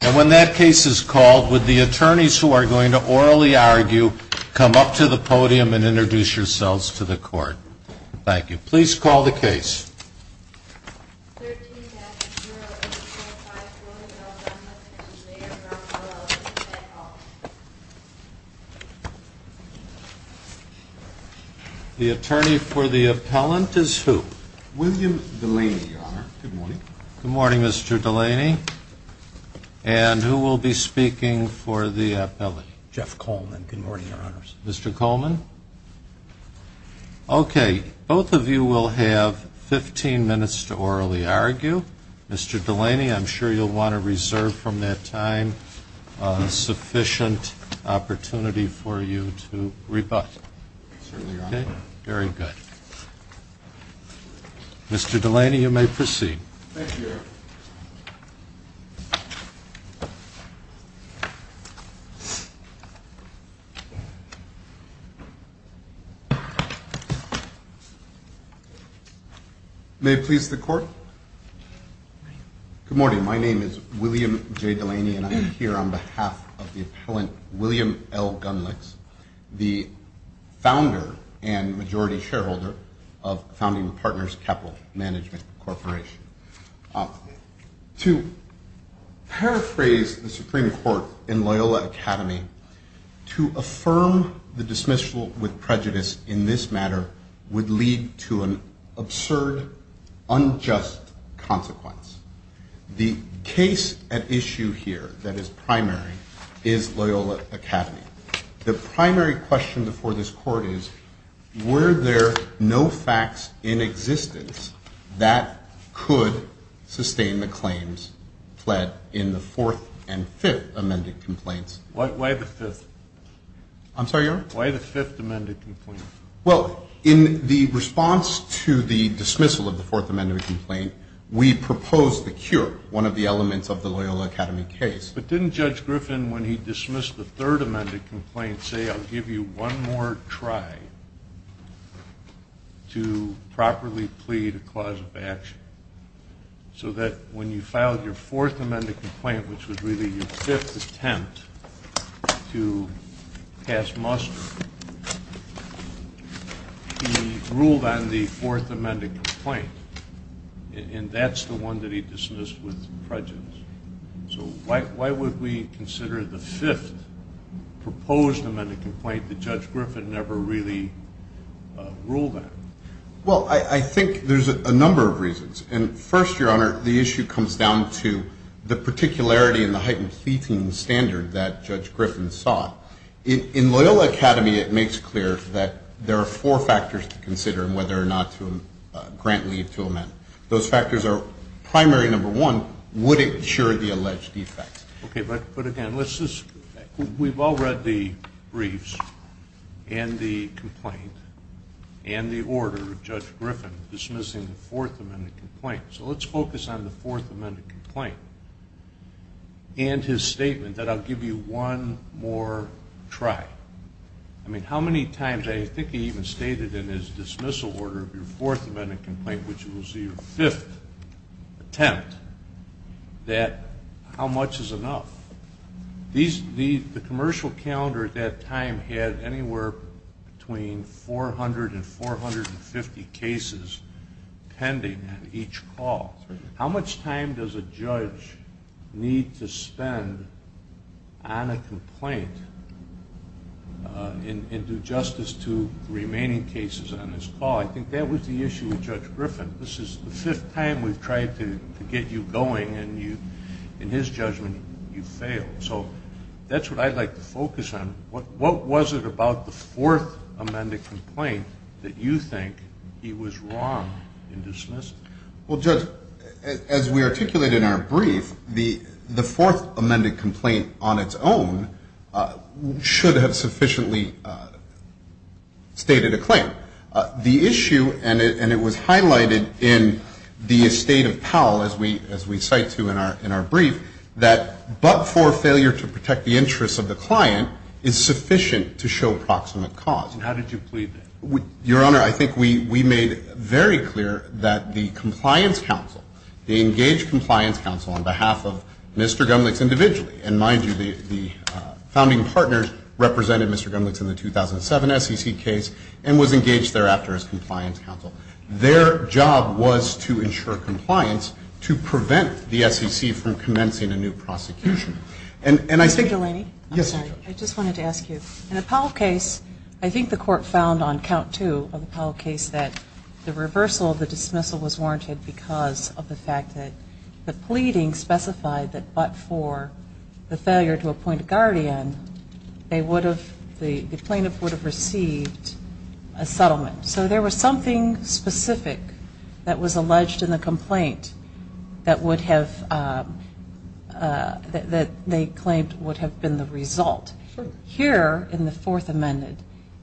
And when that case is called would the attorneys who are going to orally argue come up to the podium and introduce yourselves to the court. Thank you. Please call the case. The attorney for the appellant is who? William Delaney, your honor. Good morning. Good morning, Mr. Delaney. And who will be speaking for the appellant? Jeff Coleman, good morning, your honors. Mr. Coleman? Okay, both of you will have 15 minutes to orally argue. Mr. Delaney, I'm sure you'll want to reserve from that time sufficient opportunity for you to rebut. Certainly, your honor. Okay, very good. Mr. Delaney, you may proceed. Thank you, your honor. Good morning. My name is William J. Delaney, and I'm here on behalf of the appellant, William L. Gunlicks, the founder and majority shareholder of Founding Partners Capital Management Corporation. To paraphrase the Supreme Court in Loyola Academy, to affirm the dismissal with prejudice in this matter would lead to an absurd, unjust consequence. The case at issue here that is primary is Loyola Academy. The primary question before this court is, were there no facts in existence that could sustain the claims pled in the Fourth and Fifth Amended Complaints? Why the Fifth? I'm sorry, your honor? Why the Fifth Amended Complaints? Well, in the response to the dismissal of the Fourth Amended Complaint, we proposed the cure, one of the elements of the Loyola Academy case. But didn't Judge Griffin, when he dismissed the Third Amended Complaint, say, I'll give you one more try to properly plead a clause of action? So that when you filed your Fourth Amended Complaint, which was really your fifth attempt to pass muster, he ruled on the Fourth Amended Complaint, and that's the one that he dismissed with prejudice. So why would we consider the Fifth Proposed Amended Complaint that Judge Griffin never really ruled on? Well, I think there's a number of reasons. And first, your honor, the issue comes down to the particularity and the heightened pleading standard that Judge Griffin sought. In Loyola Academy, it makes clear that there are four factors to consider in whether or not to grant leave to a man. Those factors are, primary number one, would it cure the alleged defect? Okay, but again, we've all read the briefs and the complaint and the order of Judge Griffin dismissing the Fourth Amended Complaint. So let's focus on the Fourth Amended Complaint and his statement that I'll give you one more try. I mean, how many times, I think he even stated in his dismissal order of your Fourth Amended Complaint, which was your fifth attempt, that how much is enough? The commercial calendar at that time had anywhere between 400 and 450 cases pending at each call. How much time does a judge need to spend on a complaint and do justice to the remaining cases on his call? I think that was the issue with Judge Griffin. This is the fifth time we've tried to get you going, and in his judgment, you failed. So that's what I'd like to focus on. What was it about the Fourth Amended Complaint that you think he was wrong in dismissing? Well, Judge, as we articulate in our brief, the Fourth Amended Complaint on its own should have sufficiently stated a claim. The issue, and it was highlighted in the estate of Powell, as we cite to in our brief, that but for failure to protect the interests of the client is sufficient to show proximate cause. And how did you plead that? Your Honor, I think we made very clear that the Compliance Counsel, the engaged Compliance Counsel on behalf of Mr. Gumlich individually, and mind you, the founding partners represented Mr. Gumlich in the 2007 SEC case and was engaged thereafter as Compliance Counsel. Their job was to ensure compliance to prevent the SEC from commencing a new prosecution. Mr. Delaney? Yes, Your Honor. I just wanted to ask you, in the Powell case, I think the Court found on count two of the Powell case that the reversal of the dismissal was warranted because of the fact that the pleading specified that but for the failure to appoint a guardian, the plaintiff would have received a settlement. So there was something specific that was alleged in the complaint that would have, that they claimed would have been the result. Sure. Here in the Fourth Amendment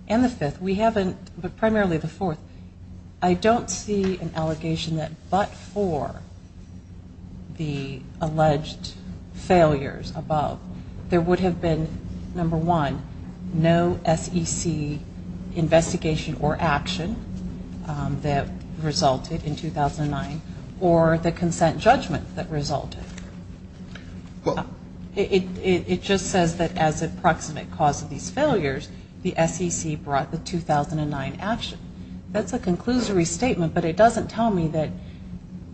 and the Fifth, we haven't, but primarily the Fourth, I don't see an allegation that but for the alleged failures above, there would have been, number one, no SEC investigation or action that resulted in 2009 or the consent judgment that resulted. It just says that as a proximate cause of these failures, the SEC brought the 2009 action. That's a conclusory statement, but it doesn't tell me that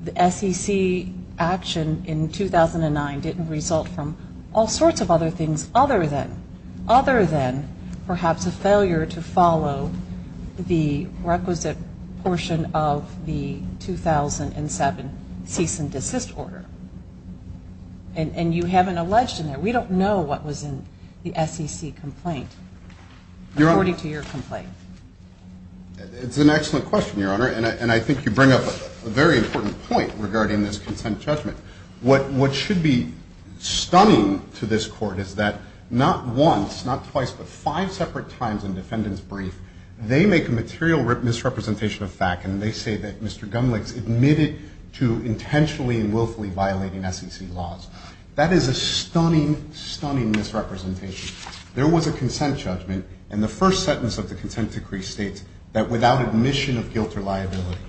the SEC action in 2009 didn't result from all sorts of other things other than, perhaps, a failure to follow the requisite portion of the 2007 cease and desist order. And you haven't alleged in there. We don't know what was in the SEC complaint according to your complaint. It's an excellent question, Your Honor, and I think you bring up a very important point regarding this consent judgment. What should be stunning to this Court is that not once, not twice, but five separate times in defendants' brief, they make a material misrepresentation of fact, and they say that Mr. Gumlich's admitted to intentionally and willfully violating SEC laws. That is a stunning, stunning misrepresentation. There was a consent judgment, and the first sentence of the consent decree states that without admission of guilt or liability,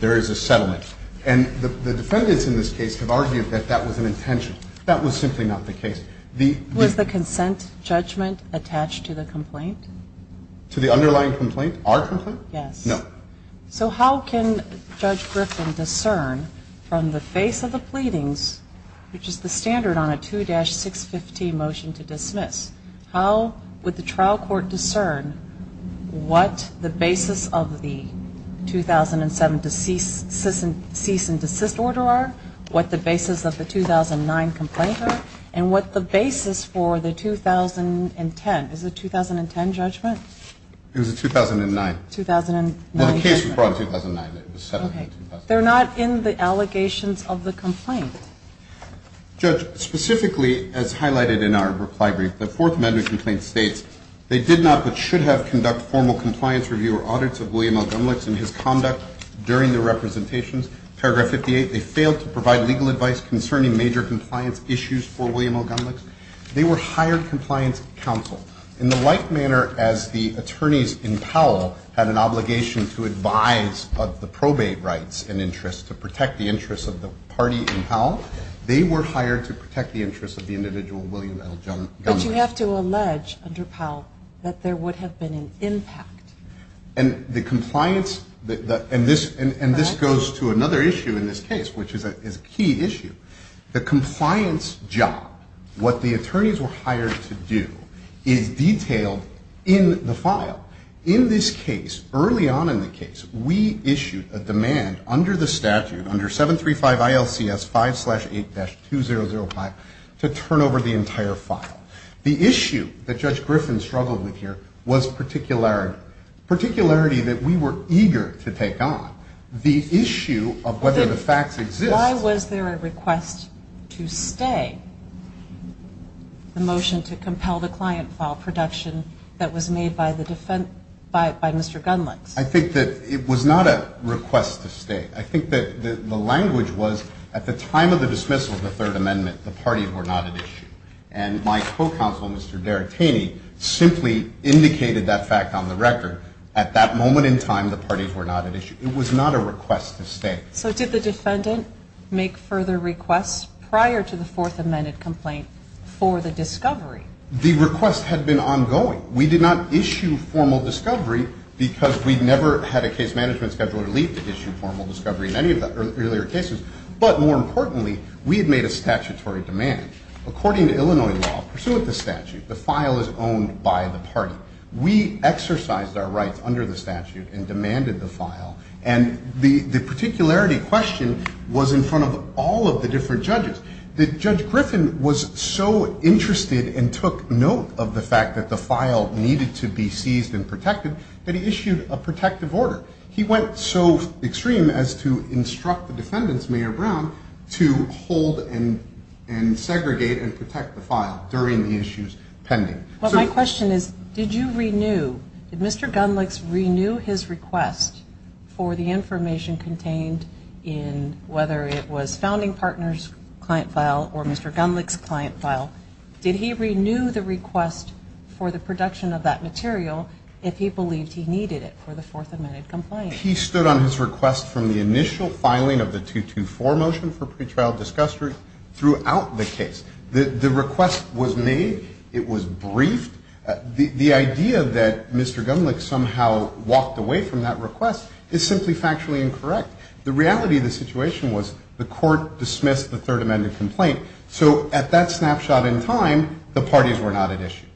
there is a settlement. And the defendants in this case have argued that that was an intention. That was simply not the case. Was the consent judgment attached to the complaint? To the underlying complaint, our complaint? Yes. No. So how can Judge Griffin discern from the face of the pleadings, which is the standard on a 2-615 motion to dismiss, how would the trial court discern what the basis of the 2007 cease and desist order are, what the basis of the 2009 complaint are, and what the basis for the 2010? Is it a 2010 judgment? It was a 2009. 2009. Well, the case was brought in 2009. It was settled in 2009. Okay. They're not in the allegations of the complaint. Judge, specifically as highlighted in our reply brief, the Fourth Amendment complaint states, they did not but should have conducted formal compliance review or audits of William L. Gumlich's and his conduct during the representations. Paragraph 58, they failed to provide legal advice concerning major compliance issues for William L. Gumlich. They were hired compliance counsel. In the like manner as the attorneys in Powell had an obligation to advise of the probate rights and interests to protect the interests of the party in Powell, they were hired to protect the interests of the individual William L. Gumlich. But you have to allege under Powell that there would have been an impact. And the compliance, and this goes to another issue in this case, which is a key issue. The compliance job, what the attorneys were hired to do, is detailed in the file. In this case, early on in the case, we issued a demand under the statute, under 735 ILCS 5-8-2005, to turn over the entire file. The issue that Judge Griffin struggled with here was particularity. Particularity that we were eager to take on. The issue of whether the facts exist. Why was there a request to stay the motion to compel the client file production that was made by the defense, by Mr. Gumlich? I think that it was not a request to stay. I think that the language was at the time of the dismissal of the Third Amendment, the parties were not at issue. And my co-counsel, Mr. Daratini, simply indicated that fact on the record. At that moment in time, the parties were not at issue. It was not a request to stay. So did the defendant make further requests prior to the Fourth Amendment complaint for the discovery? The request had been ongoing. We did not issue formal discovery because we never had a case management scheduler leave to issue formal discovery in any of the earlier cases. But more importantly, we had made a statutory demand. According to Illinois law, pursuant to statute, the file is owned by the party. We exercised our rights under the statute and demanded the file. And the particularity question was in front of all of the different judges. Judge Griffin was so interested and took note of the fact that the file needed to be seized and protected that he issued a protective order. He went so extreme as to instruct the defendants, Mayor Brown, to hold and segregate and protect the file during the issues pending. Well, my question is, did you renew, did Mr. Gunlich's renew his request for the information contained in, whether it was founding partner's client file or Mr. Gunlich's client file, did he renew the request for the production of that material if he believed he needed it for the Fourth Amendment complaint? He stood on his request from the initial filing of the 224 motion for pretrial discussion throughout the case. The request was made. It was briefed. The idea that Mr. Gunlich somehow walked away from that request is simply factually incorrect. The reality of the situation was the court dismissed the Third Amendment complaint. So at that snapshot in time, the parties were not at issue.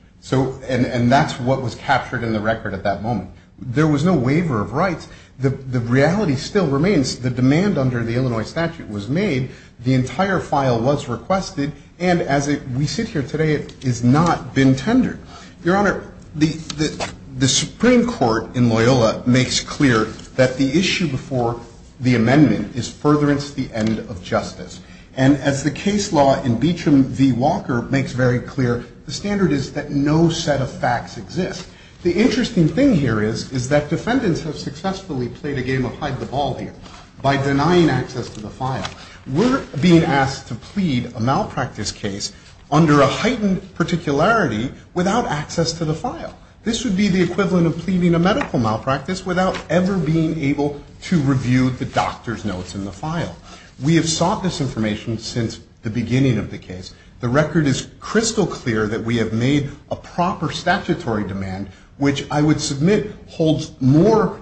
And that's what was captured in the record at that moment. There was no waiver of rights. The reality still remains. The demand under the Illinois statute was made. The entire file was requested. And as we sit here today, it has not been tendered. Your Honor, the Supreme Court in Loyola makes clear that the issue before the amendment is furtherance to the end of justice. And as the case law in Beecham v. Walker makes very clear, the standard is that no set of facts exist. The interesting thing here is, is that defendants have successfully played a game of hide the ball here by denying access to the file. We're being asked to plead a malpractice case under a heightened particularity without access to the file. This would be the equivalent of pleading a medical malpractice without ever being able to review the doctor's notes in the file. We have sought this information since the beginning of the case. The record is crystal clear that we have made a proper statutory demand, which I would submit holds more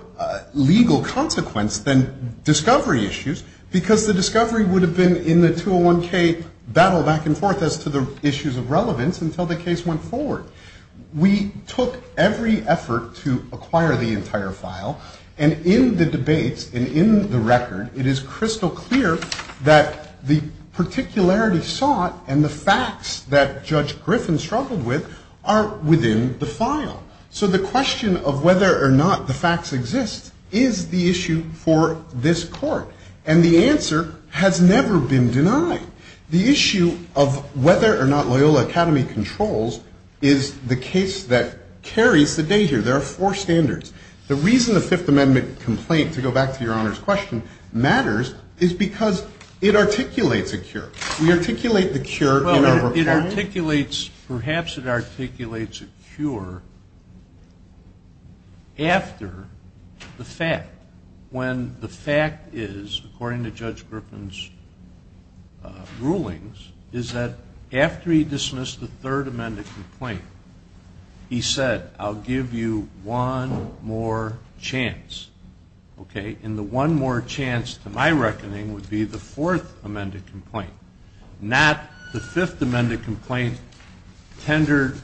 legal consequence than discovery issues, because the discovery would have been in the 201K battle back and forth as to the issues of relevance until the case went forward. We took every effort to acquire the entire file, and in the debates and in the record, it is crystal clear that the particularity sought and the facts that Judge Griffin struggled with are within the file. So the question of whether or not the facts exist is the issue for this Court. And the answer has never been denied. The issue of whether or not Loyola Academy controls is the case that carries the day here. There are four standards. The reason the Fifth Amendment complaint, to go back to Your Honor's question, matters is because it articulates a cure. We articulate the cure in our report. Perhaps it articulates a cure after the fact. When the fact is, according to Judge Griffin's rulings, is that after he dismissed the Third Amendment complaint, he said, I'll give you one more chance, okay? And the one more chance to my reckoning would be the Fourth Amendment complaint, not the Fifth Amendment complaint tendered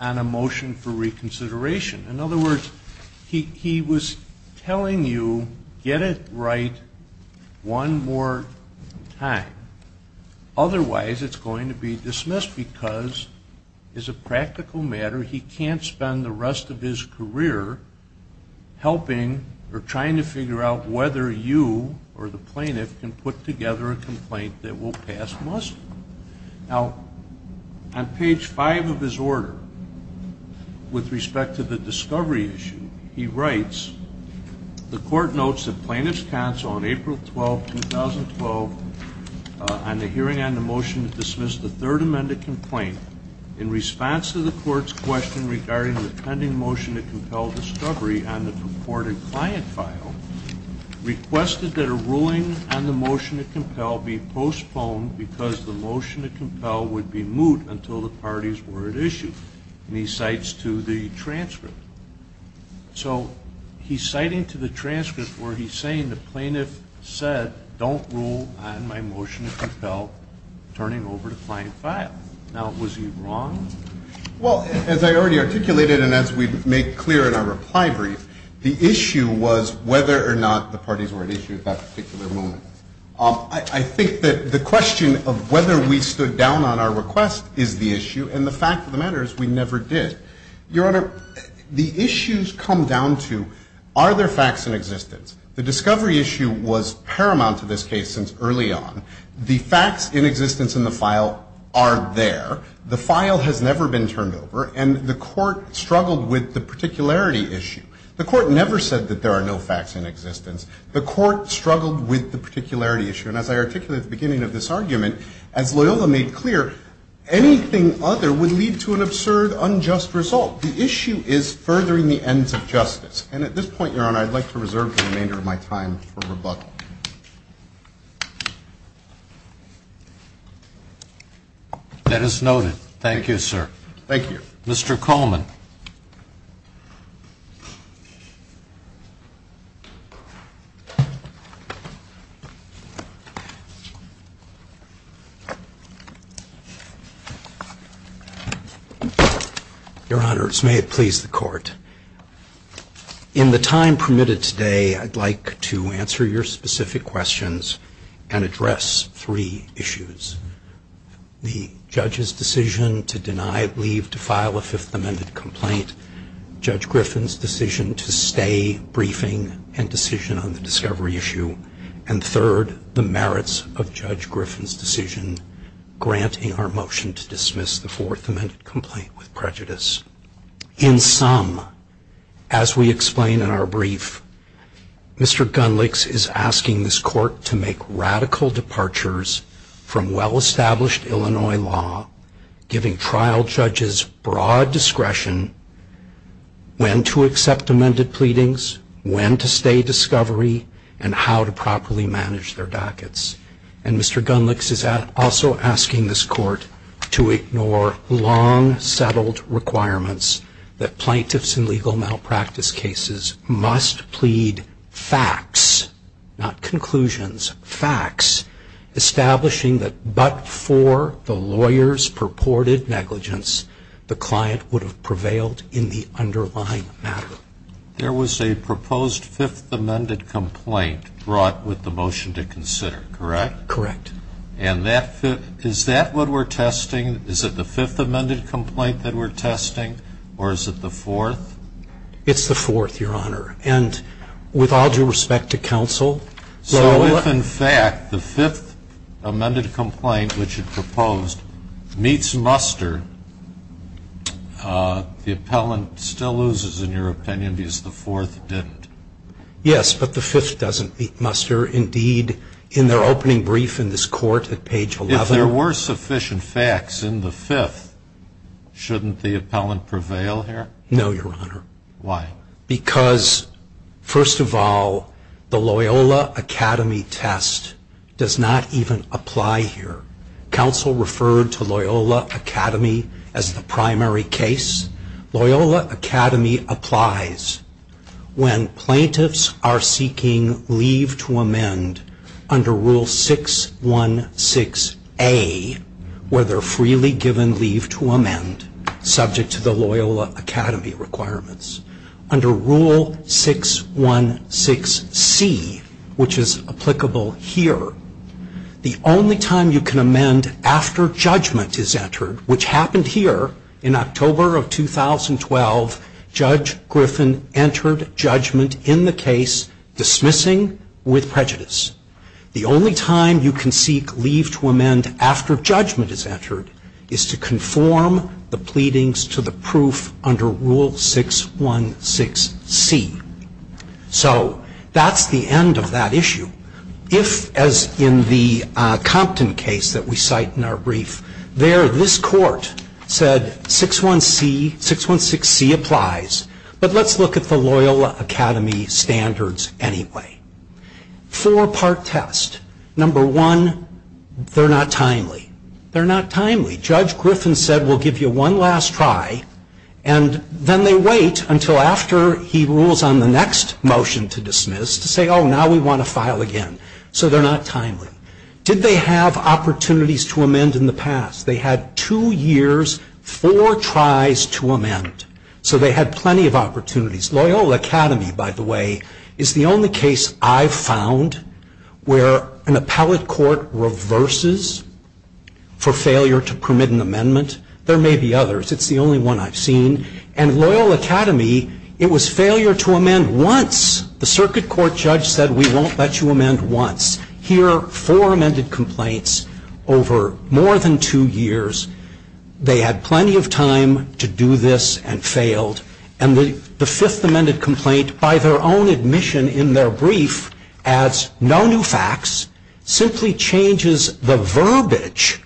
on a motion for reconsideration. In other words, he was telling you, get it right one more time. Otherwise, it's going to be dismissed because as a practical matter, he can't spend the rest of his career helping or trying to figure out whether you or the plaintiff can put together a complaint that will pass must. Now, on page 5 of his order, with respect to the discovery issue, he writes, the Court notes that plaintiff's counsel on April 12, 2012, on the hearing on the motion to dismiss the Third Amendment complaint, in response to the Court's question regarding the pending motion to compel discovery on the purported client file, requested that a ruling on the motion to compel be postponed because the motion to compel would be moot until the parties were at issue. And he cites to the transcript. So he's citing to the transcript where he's saying the plaintiff said, don't rule on my motion to compel turning over the client file. Now, was he wrong? Well, as I already articulated and as we make clear in our reply brief, the issue was whether or not the parties were at issue at that particular moment. I think that the question of whether we stood down on our request is the issue, and the fact of the matter is we never did. Your Honor, the issues come down to, are there facts in existence? The discovery issue was paramount to this case since early on. The facts in existence in the file are there. The file has never been turned over. And the Court struggled with the particularity issue. The Court never said that there are no facts in existence. The Court struggled with the particularity issue. And as I articulated at the beginning of this argument, as Loyola made clear, anything other would lead to an absurd, unjust result. The issue is furthering the ends of justice. And at this point, Your Honor, I'd like to reserve the remainder of my time for rebuttal. That is noted. Thank you, sir. Thank you. Mr. Coleman. Your Honors, may it please the Court. In the time permitted today, I'd like to answer your specific questions and address three issues. The judge's decision to deny leave to file a Fifth Amendment complaint. Judge Griffin's decision to stay briefing and decision on the discovery issue. And third, the merits of Judge Griffin's decision granting our motion to dismiss the Fourth Amendment complaint with prejudice. In sum, as we explain in our brief, Mr. Gunlich's is asking this Court to make radical departures from well-established Illinois law, giving trial judges broad discretion when to accept amended pleadings, when to stay discovery, and how to properly manage their dockets. And Mr. Gunlich's is also asking this Court to ignore long-settled requirements that plaintiffs in legal malpractice cases must plead facts, not conclusions, facts, establishing that but for the lawyer's purported negligence, the client would have prevailed in the underlying matter. There was a proposed Fifth Amendment complaint brought with the motion to consider, correct? Correct. And is that what we're testing? Is it the Fifth Amendment complaint that we're testing, or is it the Fourth? It's the Fourth, Your Honor. And with all due respect to counsel? So if, in fact, the Fifth Amendment complaint, which it proposed, meets muster, the appellant still loses, in your opinion, because the Fourth didn't? Yes, but the Fifth doesn't meet muster. Indeed, in their opening brief in this Court at page 11. If there were sufficient facts in the Fifth, shouldn't the appellant prevail here? No, Your Honor. Why? Because, first of all, the Loyola Academy test does not even apply here. Counsel referred to Loyola Academy as the primary case. Loyola Academy applies when plaintiffs are seeking leave to amend under Rule 616A, where they're freely given leave to amend subject to the Loyola Academy requirements. Under Rule 616C, which is applicable here, the only time you can amend after judgment is entered, which happened here in October of 2012, Judge Griffin entered judgment in the case dismissing with prejudice. The only time you can seek leave to amend after judgment is entered is to conform the pleadings to the proof under Rule 616C. So that's the end of that issue. If, as in the Compton case that we cite in our brief, there this Court said 616C applies, but let's look at the Loyola Academy standards anyway. Four-part test. Number one, they're not timely. They're not timely. Judge Griffin said we'll give you one last try, and then they wait until after he rules on the next motion to dismiss to say, oh, now we want to file again. So they're not timely. Did they have opportunities to amend in the past? They had two years, four tries to amend. So they had plenty of opportunities. Loyola Academy, by the way, is the only case I've found where an appellate court reverses for failure to permit an amendment. There may be others. It's the only one I've seen. And Loyola Academy, it was failure to amend once. The circuit court judge said we won't let you amend once. Here, four amended complaints over more than two years. They had plenty of time to do this and failed. And the fifth amended complaint, by their own admission in their brief, adds no new facts, simply changes the verbiage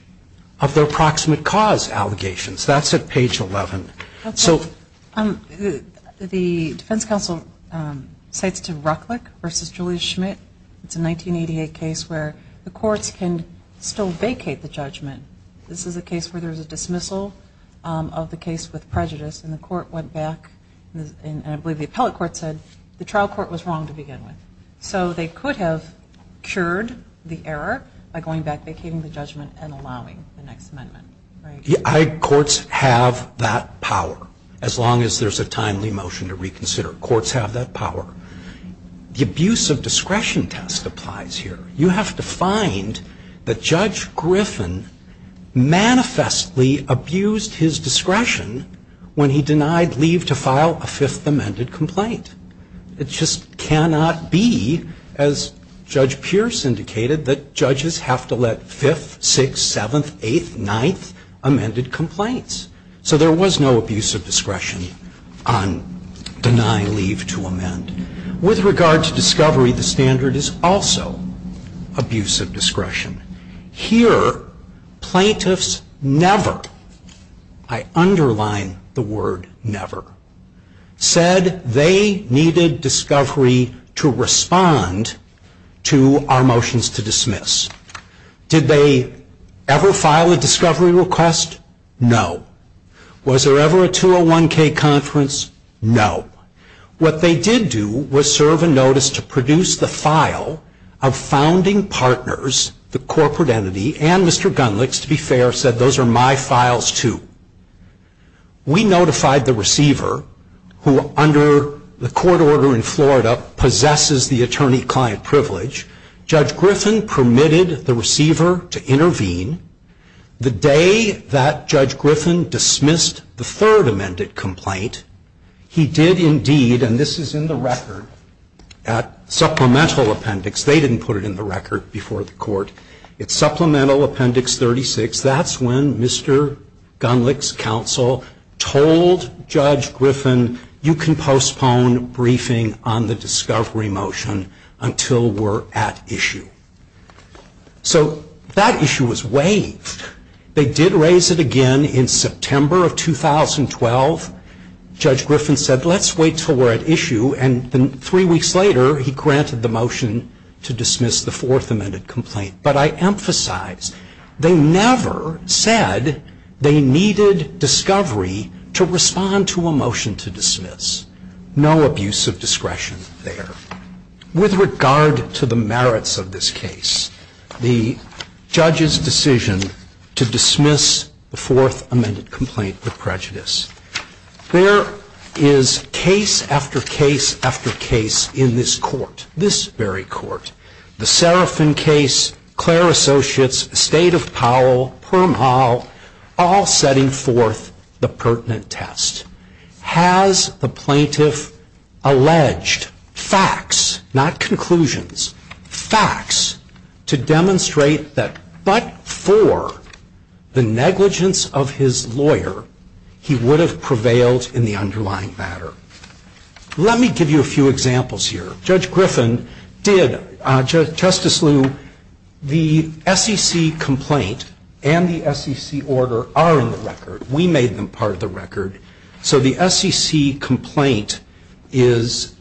of their proximate cause allegations. That's at page 11. The defense counsel cites to Rucklich v. Julius Schmidt. It's a 1988 case where the courts can still vacate the judgment. This is a case where there's a dismissal of the case with prejudice, and the court went back, and I believe the appellate court said the trial court was wrong to begin with. So they could have cured the error by going back, vacating the judgment, and allowing the next amendment. Courts have that power, as long as there's a timely motion to reconsider. Courts have that power. The abuse of discretion test applies here. You have to find that Judge Griffin manifestly abused his discretion when he denied leave to file a fifth amended complaint. It just cannot be, as Judge Pierce indicated, that judges have to let fifth, sixth, seventh, eighth, ninth amended complaints. So there was no abuse of discretion on deny leave to amend. With regard to discovery, the standard is also abuse of discretion. Here, plaintiffs never, I underline the word never, said they needed discovery to respond to our motions to dismiss. Did they ever file a discovery request? No. Was there ever a 201K conference? No. What they did do was serve a notice to produce the file of founding partners, the corporate entity, and Mr. Gunlich's, to be fair, said those are my files too. We notified the receiver, who under the court order in Florida possesses the attorney-client privilege. The day that Judge Griffin dismissed the third amended complaint, he did indeed, and this is in the record at supplemental appendix. They didn't put it in the record before the court. It's supplemental appendix 36. That's when Mr. Gunlich's counsel told Judge Griffin you can postpone briefing on the discovery motion until we're at issue. So that issue was waived. They did raise it again in September of 2012. Judge Griffin said let's wait until we're at issue, and then three weeks later, he granted the motion to dismiss the fourth amended complaint. But I emphasize, they never said they needed discovery to respond to a motion to dismiss. No abuse of discretion there. With regard to the merits of this case, the judge's decision to dismiss the fourth amended complaint with prejudice, there is case after case after case in this court, this very court. The Serafin case, Clare Associates, Estate of Powell, Perm Hall, all setting forth the pertinent test. Has the plaintiff alleged facts, not conclusions, facts to demonstrate that but for the negligence of his lawyer, he would have prevailed in the underlying matter? Let me give you a few examples here. Judge Griffin did, Justice Lew, the SEC complaint and the SEC order are in the record. We made them part of the record. So the SEC complaint is...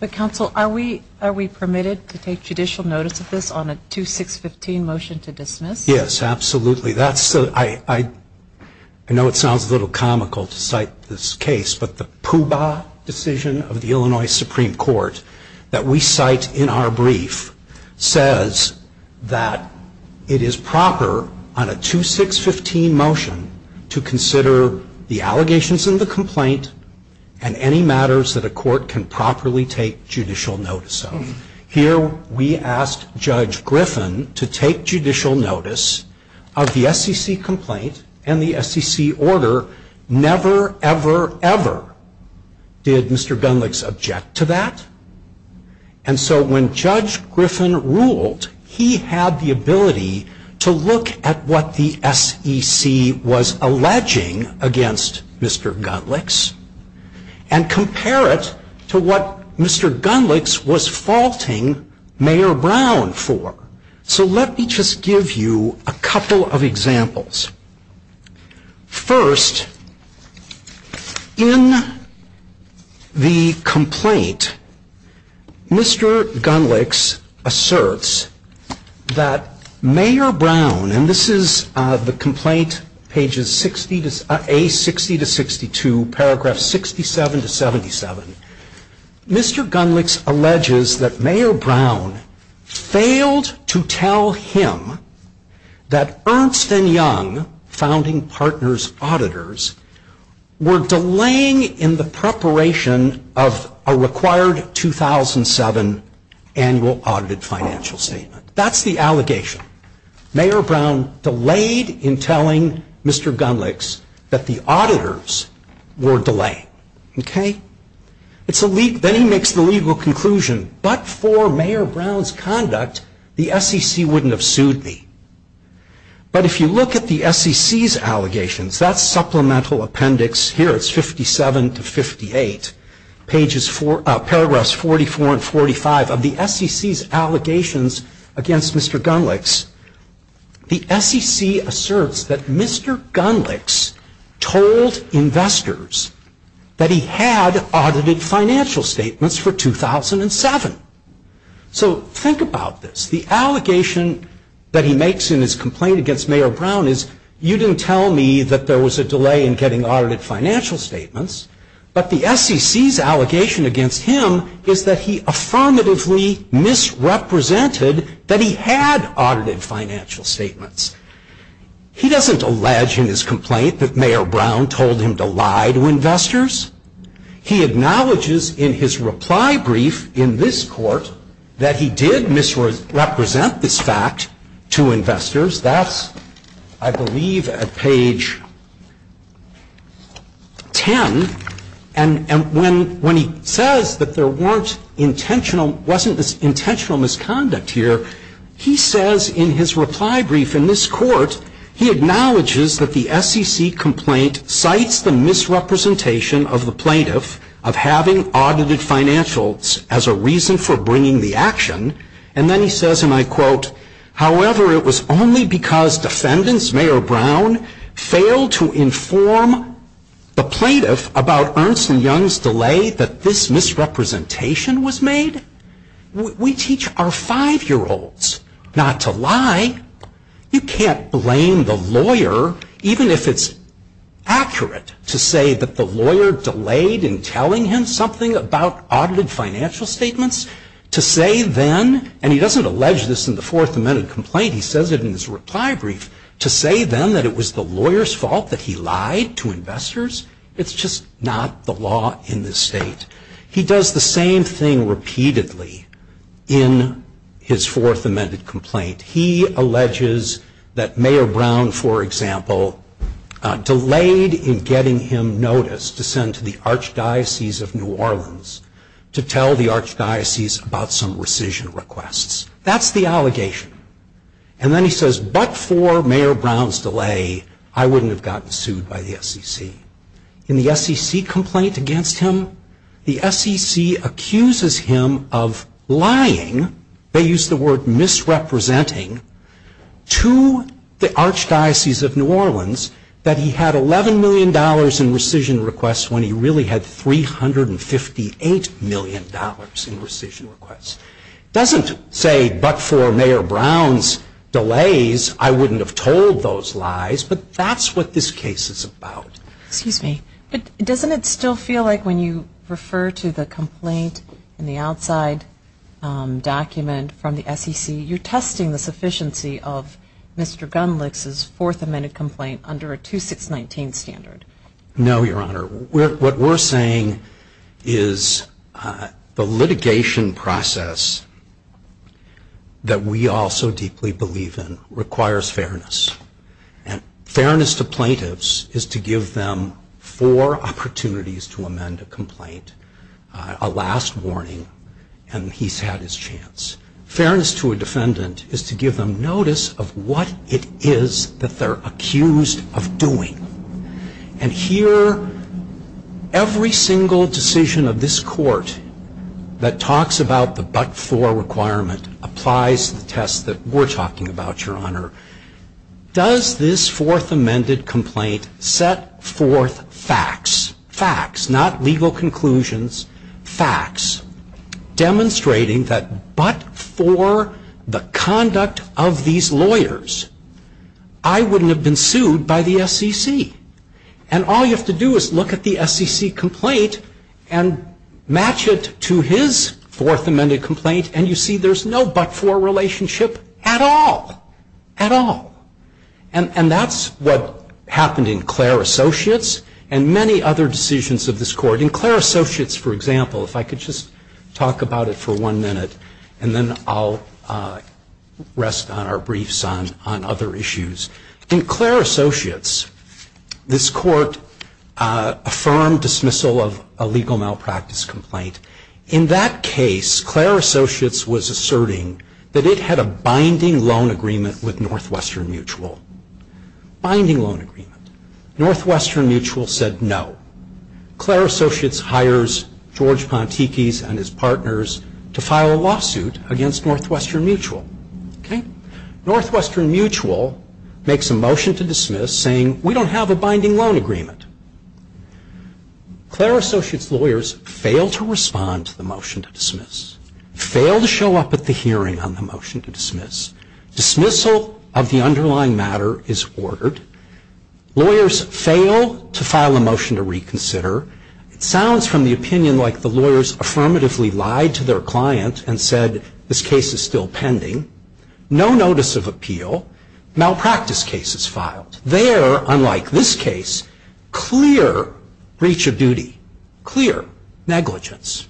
But counsel, are we permitted to take judicial notice of this on a 2615 motion to dismiss? Yes, absolutely. I know it sounds a little comical to cite this case, but the Puba decision of the Illinois Supreme Court that we cite in our brief says that it is proper on a 2615 motion to consider the allegations in the complaint and any matters that a court can properly take judicial notice of. Here we asked Judge Griffin to take judicial notice of the SEC complaint and the SEC order. Never, ever, ever did Mr. Gundlachs object to that. And so when Judge Griffin ruled, he had the ability to look at what the SEC was alleging against Mr. Gundlachs and compare it to what Mr. Gundlachs was faulting Mayor Brown for. So let me just give you a couple of examples. First, in the complaint, Mr. Gundlachs asserts that Mayor Brown, and this is the complaint pages A60 to 62, paragraphs 67 to 77. Mr. Gundlachs alleges that Mayor Brown failed to tell him that Ernst & Young founding partners auditors were delaying in the preparation of a required 2007 annual audited financial statement. That's the allegation. Mayor Brown delayed in telling Mr. Gundlachs that the auditors were delaying. Then he makes the legal conclusion, but for Mayor Brown's conduct, the SEC wouldn't have sued me. But if you look at the SEC's allegations, that's supplemental appendix here, it's 57 to 58, paragraphs 44 and 45 of the SEC's allegations against Mr. Gundlachs. The SEC asserts that Mr. Gundlachs told investors that he had audited financial statements for 2007. So think about this. The allegation that he makes in his complaint against Mayor Brown is, you didn't tell me that there was a delay in getting audited financial statements, but the SEC's allegation against him is that he affirmatively misrepresented that he had audited financial statements. He doesn't allege in his complaint that Mayor Brown told him to lie to investors. He acknowledges in his reply brief in this court that he did misrepresent this fact to investors. That's, I believe, at page 10. And when he says that there wasn't intentional misconduct here, he says in his reply brief in this court, he acknowledges that the SEC complaint cites the misrepresentation of the plaintiff of having audited financials as a reason for bringing the action. And then he says, and I quote, However, it was only because defendants, Mayor Brown, failed to inform the plaintiff about Ernst and Young's delay that this misrepresentation was made? We teach our five-year-olds not to lie. You can't blame the lawyer, even if it's accurate to say that the lawyer delayed in telling him something about audited financial statements, to say then, and he doesn't allege this in the Fourth Amendment complaint, he says it in his reply brief, to say then that it was the lawyer's fault that he lied to investors? It's just not the law in this state. He does the same thing repeatedly in his Fourth Amendment complaint. He alleges that Mayor Brown, for example, delayed in getting him notice to send to the Archdiocese of New Orleans to tell the Archdiocese about some rescission requests. That's the allegation. And then he says, but for Mayor Brown's delay, I wouldn't have gotten sued by the SEC. In the SEC complaint against him, the SEC accuses him of lying, they use the word misrepresenting, to the Archdiocese of New Orleans that he had $11 million in rescission requests, when he really had $358 million in rescission requests. It doesn't say, but for Mayor Brown's delays, I wouldn't have told those lies, but that's what this case is about. Excuse me, but doesn't it still feel like when you refer to the complaint in the outside document from the SEC, you're testing the sufficiency of Mr. Gunlich's Fourth Amendment complaint under a 2619 standard? No, Your Honor. What we're saying is the litigation process that we all so deeply believe in requires fairness. And fairness to plaintiffs is to give them four opportunities to amend a complaint, a last warning, and he's had his chance. Fairness to a defendant is to give them notice of what it is that they're accused of doing. And here, every single decision of this Court that talks about the but-for requirement applies to the test that we're talking about, Your Honor. Does this Fourth Amendment complaint set forth facts, facts, not legal conclusions, facts, demonstrating that but for the conduct of these lawyers, I wouldn't have been sued by the SEC? And all you have to do is look at the SEC complaint and match it to his Fourth Amendment complaint, and you see there's no but-for relationship at all, at all. And that's what happened in Clare Associates and many other decisions of this Court. In Clare Associates, for example, if I could just talk about it for one minute, and then I'll rest on our briefs on other issues. In Clare Associates, this Court affirmed dismissal of a legal malpractice complaint. In that case, Clare Associates was asserting that it had a binding loan agreement with Northwestern Mutual. Binding loan agreement. Northwestern Mutual said no. Clare Associates hires George Pontikis and his partners to file a lawsuit against Northwestern Mutual. Okay? Northwestern Mutual makes a motion to dismiss saying, we don't have a binding loan agreement. Clare Associates lawyers fail to respond to the motion to dismiss, fail to show up at the hearing on the motion to dismiss. Dismissal of the underlying matter is ordered. Lawyers fail to file a motion to reconsider. It sounds from the opinion like the lawyers affirmatively lied to their client and said, this case is still pending. No notice of appeal. Malpractice case is filed. There, unlike this case, clear breach of duty. Clear negligence.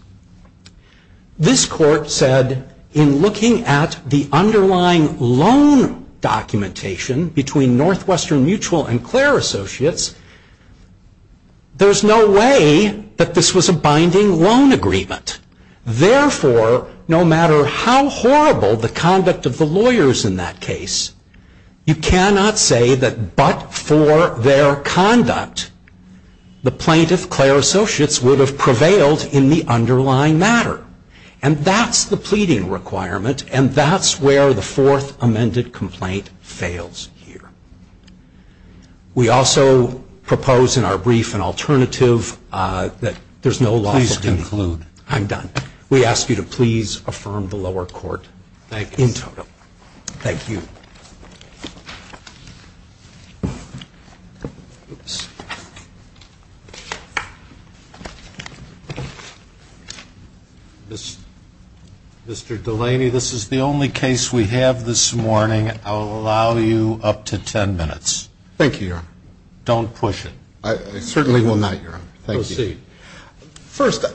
This court said, in looking at the underlying loan documentation between Northwestern Mutual and Clare Associates, there's no way that this was a binding loan agreement. Therefore, no matter how horrible the conduct of the lawyers in that case, you cannot say that but for their conduct, the plaintiff, Clare Associates, would have prevailed in the underlying matter. And that's the pleading requirement, and that's where the fourth amended complaint fails here. We also propose in our brief an alternative that there's no lawsuit. Please conclude. I'm done. We ask you to please affirm the lower court in total. Thank you. Thank you. Mr. Delaney, this is the only case we have this morning. I'll allow you up to ten minutes. Thank you, Your Honor. Don't push it. I certainly will not, Your Honor. Thank you. Proceed. First,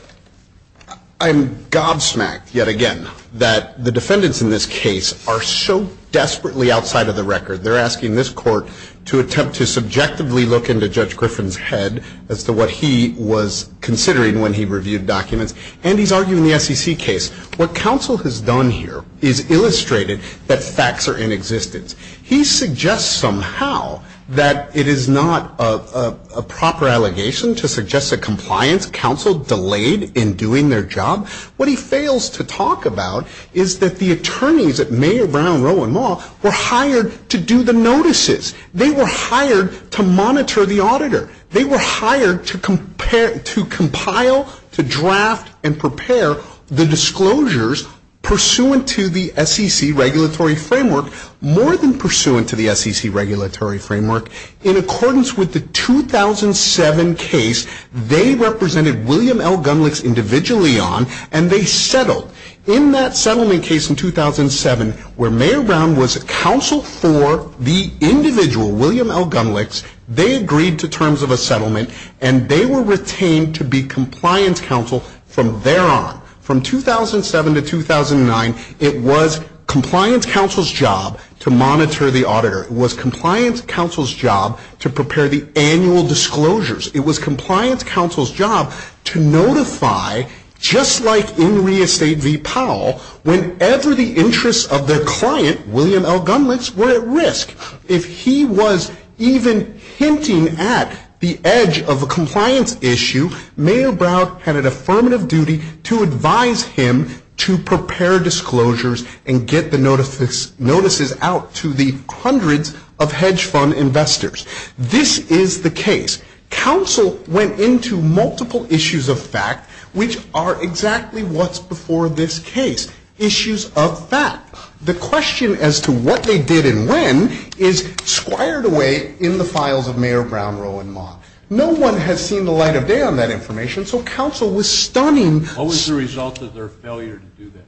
I'm gobsmacked yet again that the defendants in this case are so desperate to get to the bottom of this case. They're asking this court to attempt to subjectively look into Judge Griffin's head as to what he was considering when he reviewed documents. And he's arguing the SEC case. What counsel has done here is illustrated that facts are in existence. He suggests somehow that it is not a proper allegation to suggest a compliance counsel delayed in doing their job. What he fails to talk about is that the attorneys at Mayer, Brown, Rowe, and Maul were hired to do the notices. They were hired to monitor the auditor. They were hired to compile, to draft, and prepare the disclosures pursuant to the SEC regulatory framework, more than pursuant to the SEC regulatory framework, in accordance with the 2007 case they represented William L. Gunlich individually on, and they settled. In that settlement case in 2007, where Mayer, Brown was counsel for the individual, William L. Gunlich, they agreed to terms of a settlement, and they were retained to be compliance counsel from there on. From 2007 to 2009, it was compliance counsel's job to monitor the auditor. It was compliance counsel's job to prepare the annual disclosures. It was compliance counsel's job to notify, just like in re-estate v. Powell, whenever the interests of their client, William L. Gunlich, were at risk. If he was even hinting at the edge of a compliance issue, Mayer, Brown had an affirmative duty to advise him to prepare disclosures and get the notices out to the hundreds of hedge fund investors. This is the case. Counsel went into multiple issues of fact, which are exactly what's before this case, issues of fact. The question as to what they did and when is squired away in the files of Mayer, Brown, Roe, and Maul. No one has seen the light of day on that information, so counsel was stunning. What was the result of their failure to do that?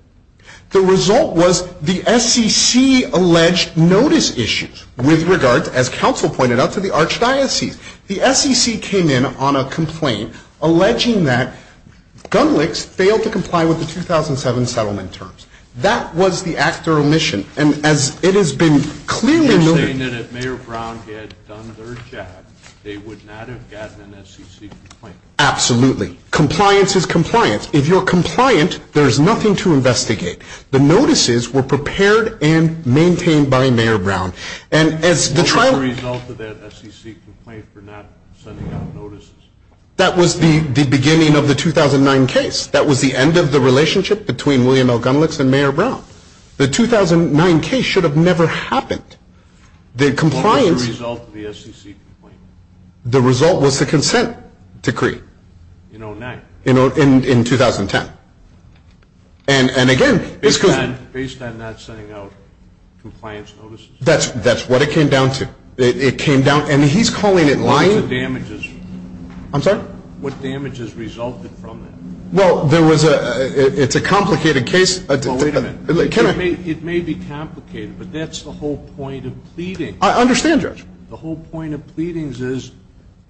The result was the SEC alleged notice issues with regard, as counsel pointed out, to the archdiocese. The SEC came in on a complaint alleging that Gunlich failed to comply with the 2007 settlement terms. That was the act or omission, and as it has been clearly noted. You're saying that if Mayer, Brown had done their job, they would not have gotten an SEC complaint. Absolutely. Compliance is compliance. If you're compliant, there's nothing to investigate. The notices were prepared and maintained by Mayer, Brown. What was the result of that SEC complaint for not sending out notices? That was the beginning of the 2009 case. That was the end of the relationship between William L. Gunlich and Mayer, Brown. The 2009 case should have never happened. What was the result of the SEC complaint? The result was the consent decree. In 2009? In 2010. Based on not sending out compliance notices? That's what it came down to. And he's calling it lying? What damages resulted from that? Well, it's a complicated case. Well, wait a minute. It may be complicated, but that's the whole point of pleading. I understand, Judge. The whole point of pleadings is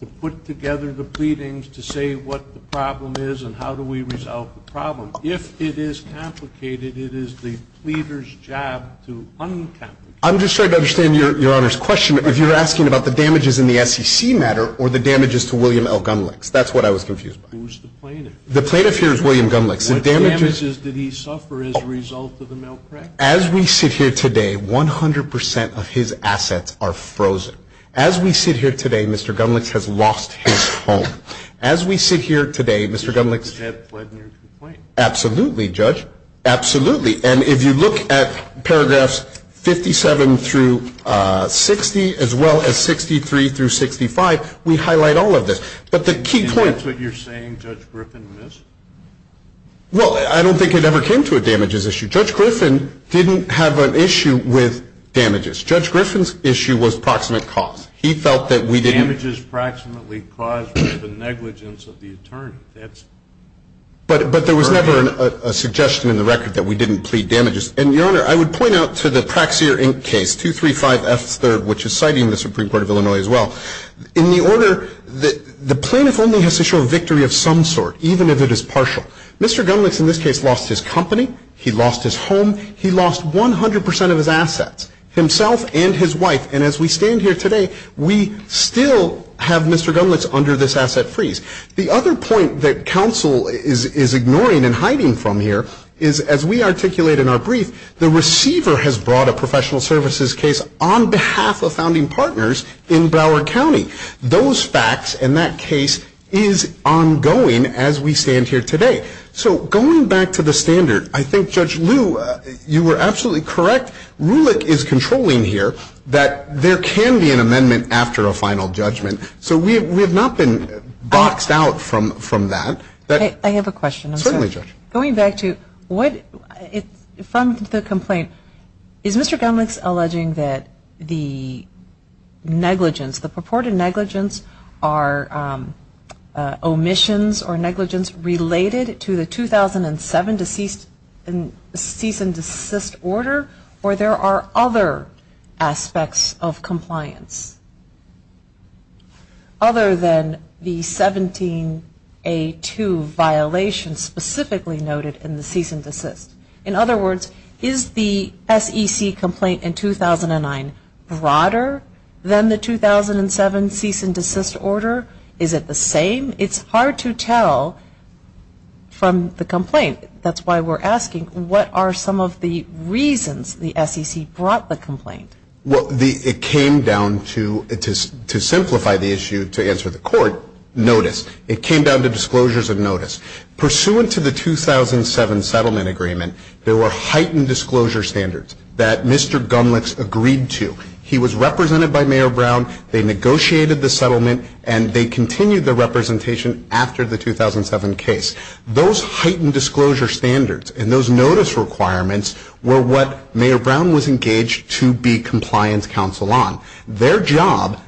to put together the pleadings to say what the problem is and how do we resolve the problem. If it is complicated, it is the pleader's job to un-complicate it. I'm just trying to understand Your Honor's question. If you're asking about the damages in the SEC matter or the damages to William L. Gunlich, that's what I was confused by. Who's the plaintiff? The plaintiff here is William Gunlich. What damages did he suffer as a result of the mail crack? As we sit here today, 100% of his assets are frozen. As we sit here today, Mr. Gunlich has lost his home. As we sit here today, Mr. Gunlich — Is that pledging your complaint? Absolutely, Judge. Absolutely. And if you look at paragraphs 57 through 60, as well as 63 through 65, we highlight all of this. But the key point — Well, I don't think it ever came to a damages issue. Judge Griffin didn't have an issue with damages. Judge Griffin's issue was proximate cause. He felt that we didn't — Damages proximately caused by the negligence of the attorney. That's — But there was never a suggestion in the record that we didn't plead damages. And, Your Honor, I would point out to the Praxier, Inc. case, 235 F. 3rd, which is citing the Supreme Court of Illinois, as well. In the order, the plaintiff only has to show a victory of some sort, even if it is partial. Mr. Gunlich, in this case, lost his company. He lost his home. He lost 100 percent of his assets, himself and his wife. And as we stand here today, we still have Mr. Gunlich under this asset freeze. The other point that counsel is ignoring and hiding from here is, as we articulate in our brief, the receiver has brought a professional services case on behalf of founding partners in Broward County. Those facts in that case is ongoing as we stand here today. So going back to the standard, I think, Judge Liu, you were absolutely correct. Rulich is controlling here that there can be an amendment after a final judgment. So we have not been boxed out from that. I have a question. Certainly, Judge. Going back to what — from the complaint, is Mr. Gunlich alleging that the negligence, the purported negligence, are omissions or negligence related to the 2007 cease and desist order, or there are other aspects of compliance other than the 17A2 violation specifically noted in the cease and desist? In other words, is the SEC complaint in 2009 broader than the 2007 cease and desist order? Is it the same? It's hard to tell from the complaint. That's why we're asking, what are some of the reasons the SEC brought the complaint? Well, it came down to, to simplify the issue, to answer the court, notice. It came down to disclosures of notice. Pursuant to the 2007 settlement agreement, there were heightened disclosure standards that Mr. Gunlich agreed to. He was represented by Mayor Brown, they negotiated the settlement, and they continued the representation after the 2007 case. Those heightened disclosure standards and those notice requirements were what Mayor Brown was engaged to be compliance counsel on. Their job,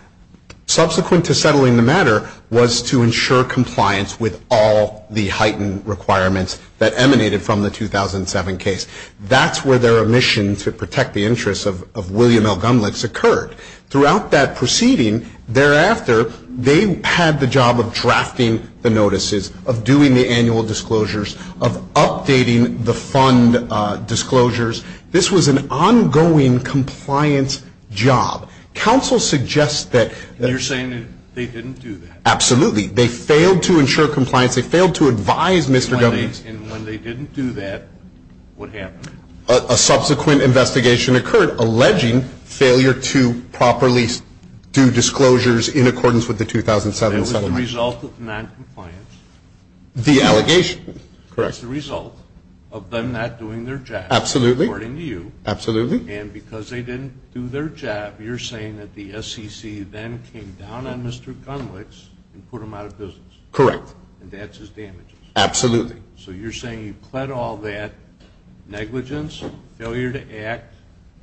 subsequent to settling the matter, was to ensure compliance with all the heightened requirements that emanated from the 2007 case. That's where their mission to protect the interests of William L. Gunlich's occurred. Throughout that proceeding, thereafter, they had the job of drafting the notices, of doing the annual disclosures, of updating the fund disclosures. This was an ongoing compliance job. Counsel suggests that... You're saying that they didn't do that. Absolutely. They failed to ensure compliance. They failed to advise Mr. Gunlich. And when they didn't do that, what happened? A subsequent investigation occurred, alleging failure to properly do disclosures in accordance with the 2007 settlement. And it was the result of noncompliance. The allegation. Correct. It was the result of them not doing their job. Absolutely. According to you. Absolutely. And because they didn't do their job, you're saying that the SEC then came down on Mr. Gunlich and put him out of business. Correct. And that's his damages. Absolutely. So you're saying you pled all that negligence, failure to act,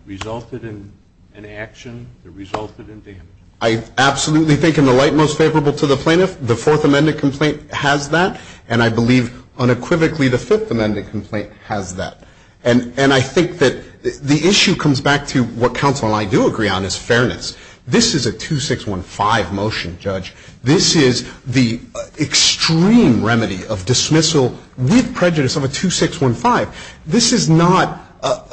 resulted in inaction, that resulted in damage. I absolutely think in the light most favorable to the plaintiff, the Fourth Amendment complaint has that, and I believe unequivocally the Fifth Amendment complaint has that. And I think that the issue comes back to what counsel and I do agree on is fairness. This is a 2615 motion, Judge. This is the extreme remedy of dismissal with prejudice of a 2615. This is not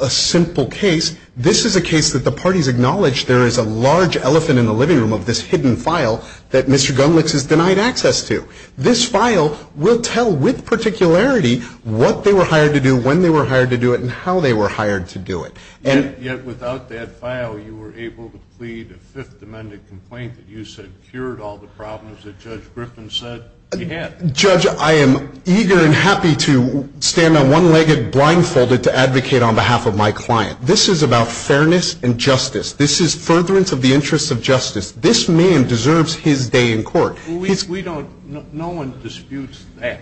a simple case. This is a case that the parties acknowledge there is a large elephant in the living room of this hidden file that Mr. Gunlich is denied access to. This file will tell with particularity what they were hired to do, when they were hired to do it, and how they were hired to do it. And yet without that file, you were able to plead a Fifth Amendment complaint that you said cured all the problems that Judge Griffin said he had. Judge, I am eager and happy to stand on one leg and blindfolded to advocate on behalf of my client. This is about fairness and justice. This is furtherance of the interests of justice. This man deserves his day in court. Well, we don't – no one disputes that.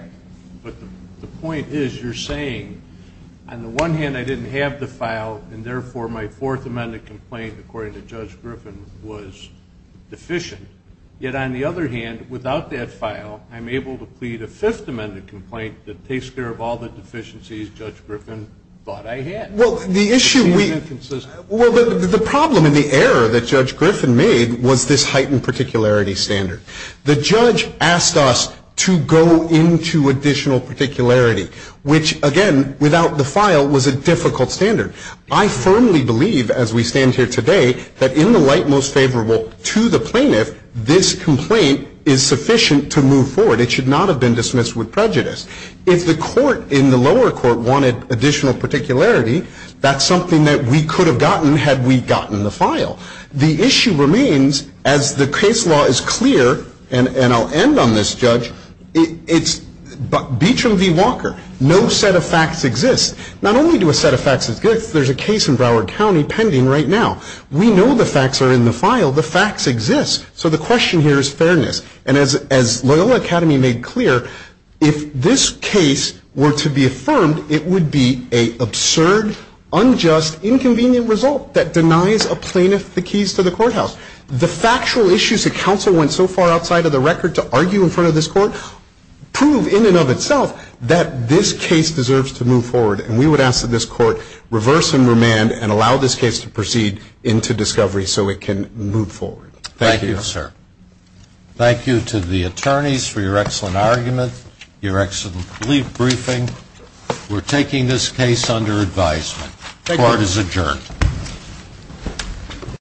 But the point is you're saying on the one hand I didn't have the file and therefore my Fourth Amendment complaint, according to Judge Griffin, was deficient. Yet on the other hand, without that file, I'm able to plead a Fifth Amendment complaint that takes care of all the deficiencies Judge Griffin thought I had. Well, the issue we – It's inconsistent. Well, the problem and the error that Judge Griffin made was this heightened particularity standard. The judge asked us to go into additional particularity, which, again, without the file was a difficult standard. I firmly believe as we stand here today that in the light most favorable to the plaintiff, this complaint is sufficient to move forward. It should not have been dismissed with prejudice. If the court in the lower court wanted additional particularity, that's something that we could have gotten had we gotten the file. The issue remains, as the case law is clear, and I'll end on this, Judge. It's – Beecham v. Walker. No set of facts exists. Not only do a set of facts exist, there's a case in Broward County pending right now. We know the facts are in the file. The facts exist. So the question here is fairness. And as Loyola Academy made clear, if this case were to be affirmed, it would be an absurd, unjust, inconvenient result that denies a plaintiff the keys to the courthouse. The factual issues that counsel went so far outside of the record to argue in front of this court prove in and of itself that this case deserves to move forward. And we would ask that this court reverse and remand and allow this case to proceed into discovery so it can move forward. Thank you, sir. Thank you to the attorneys for your excellent argument, your excellent brief briefing. We're taking this case under advisement. Court is adjourned.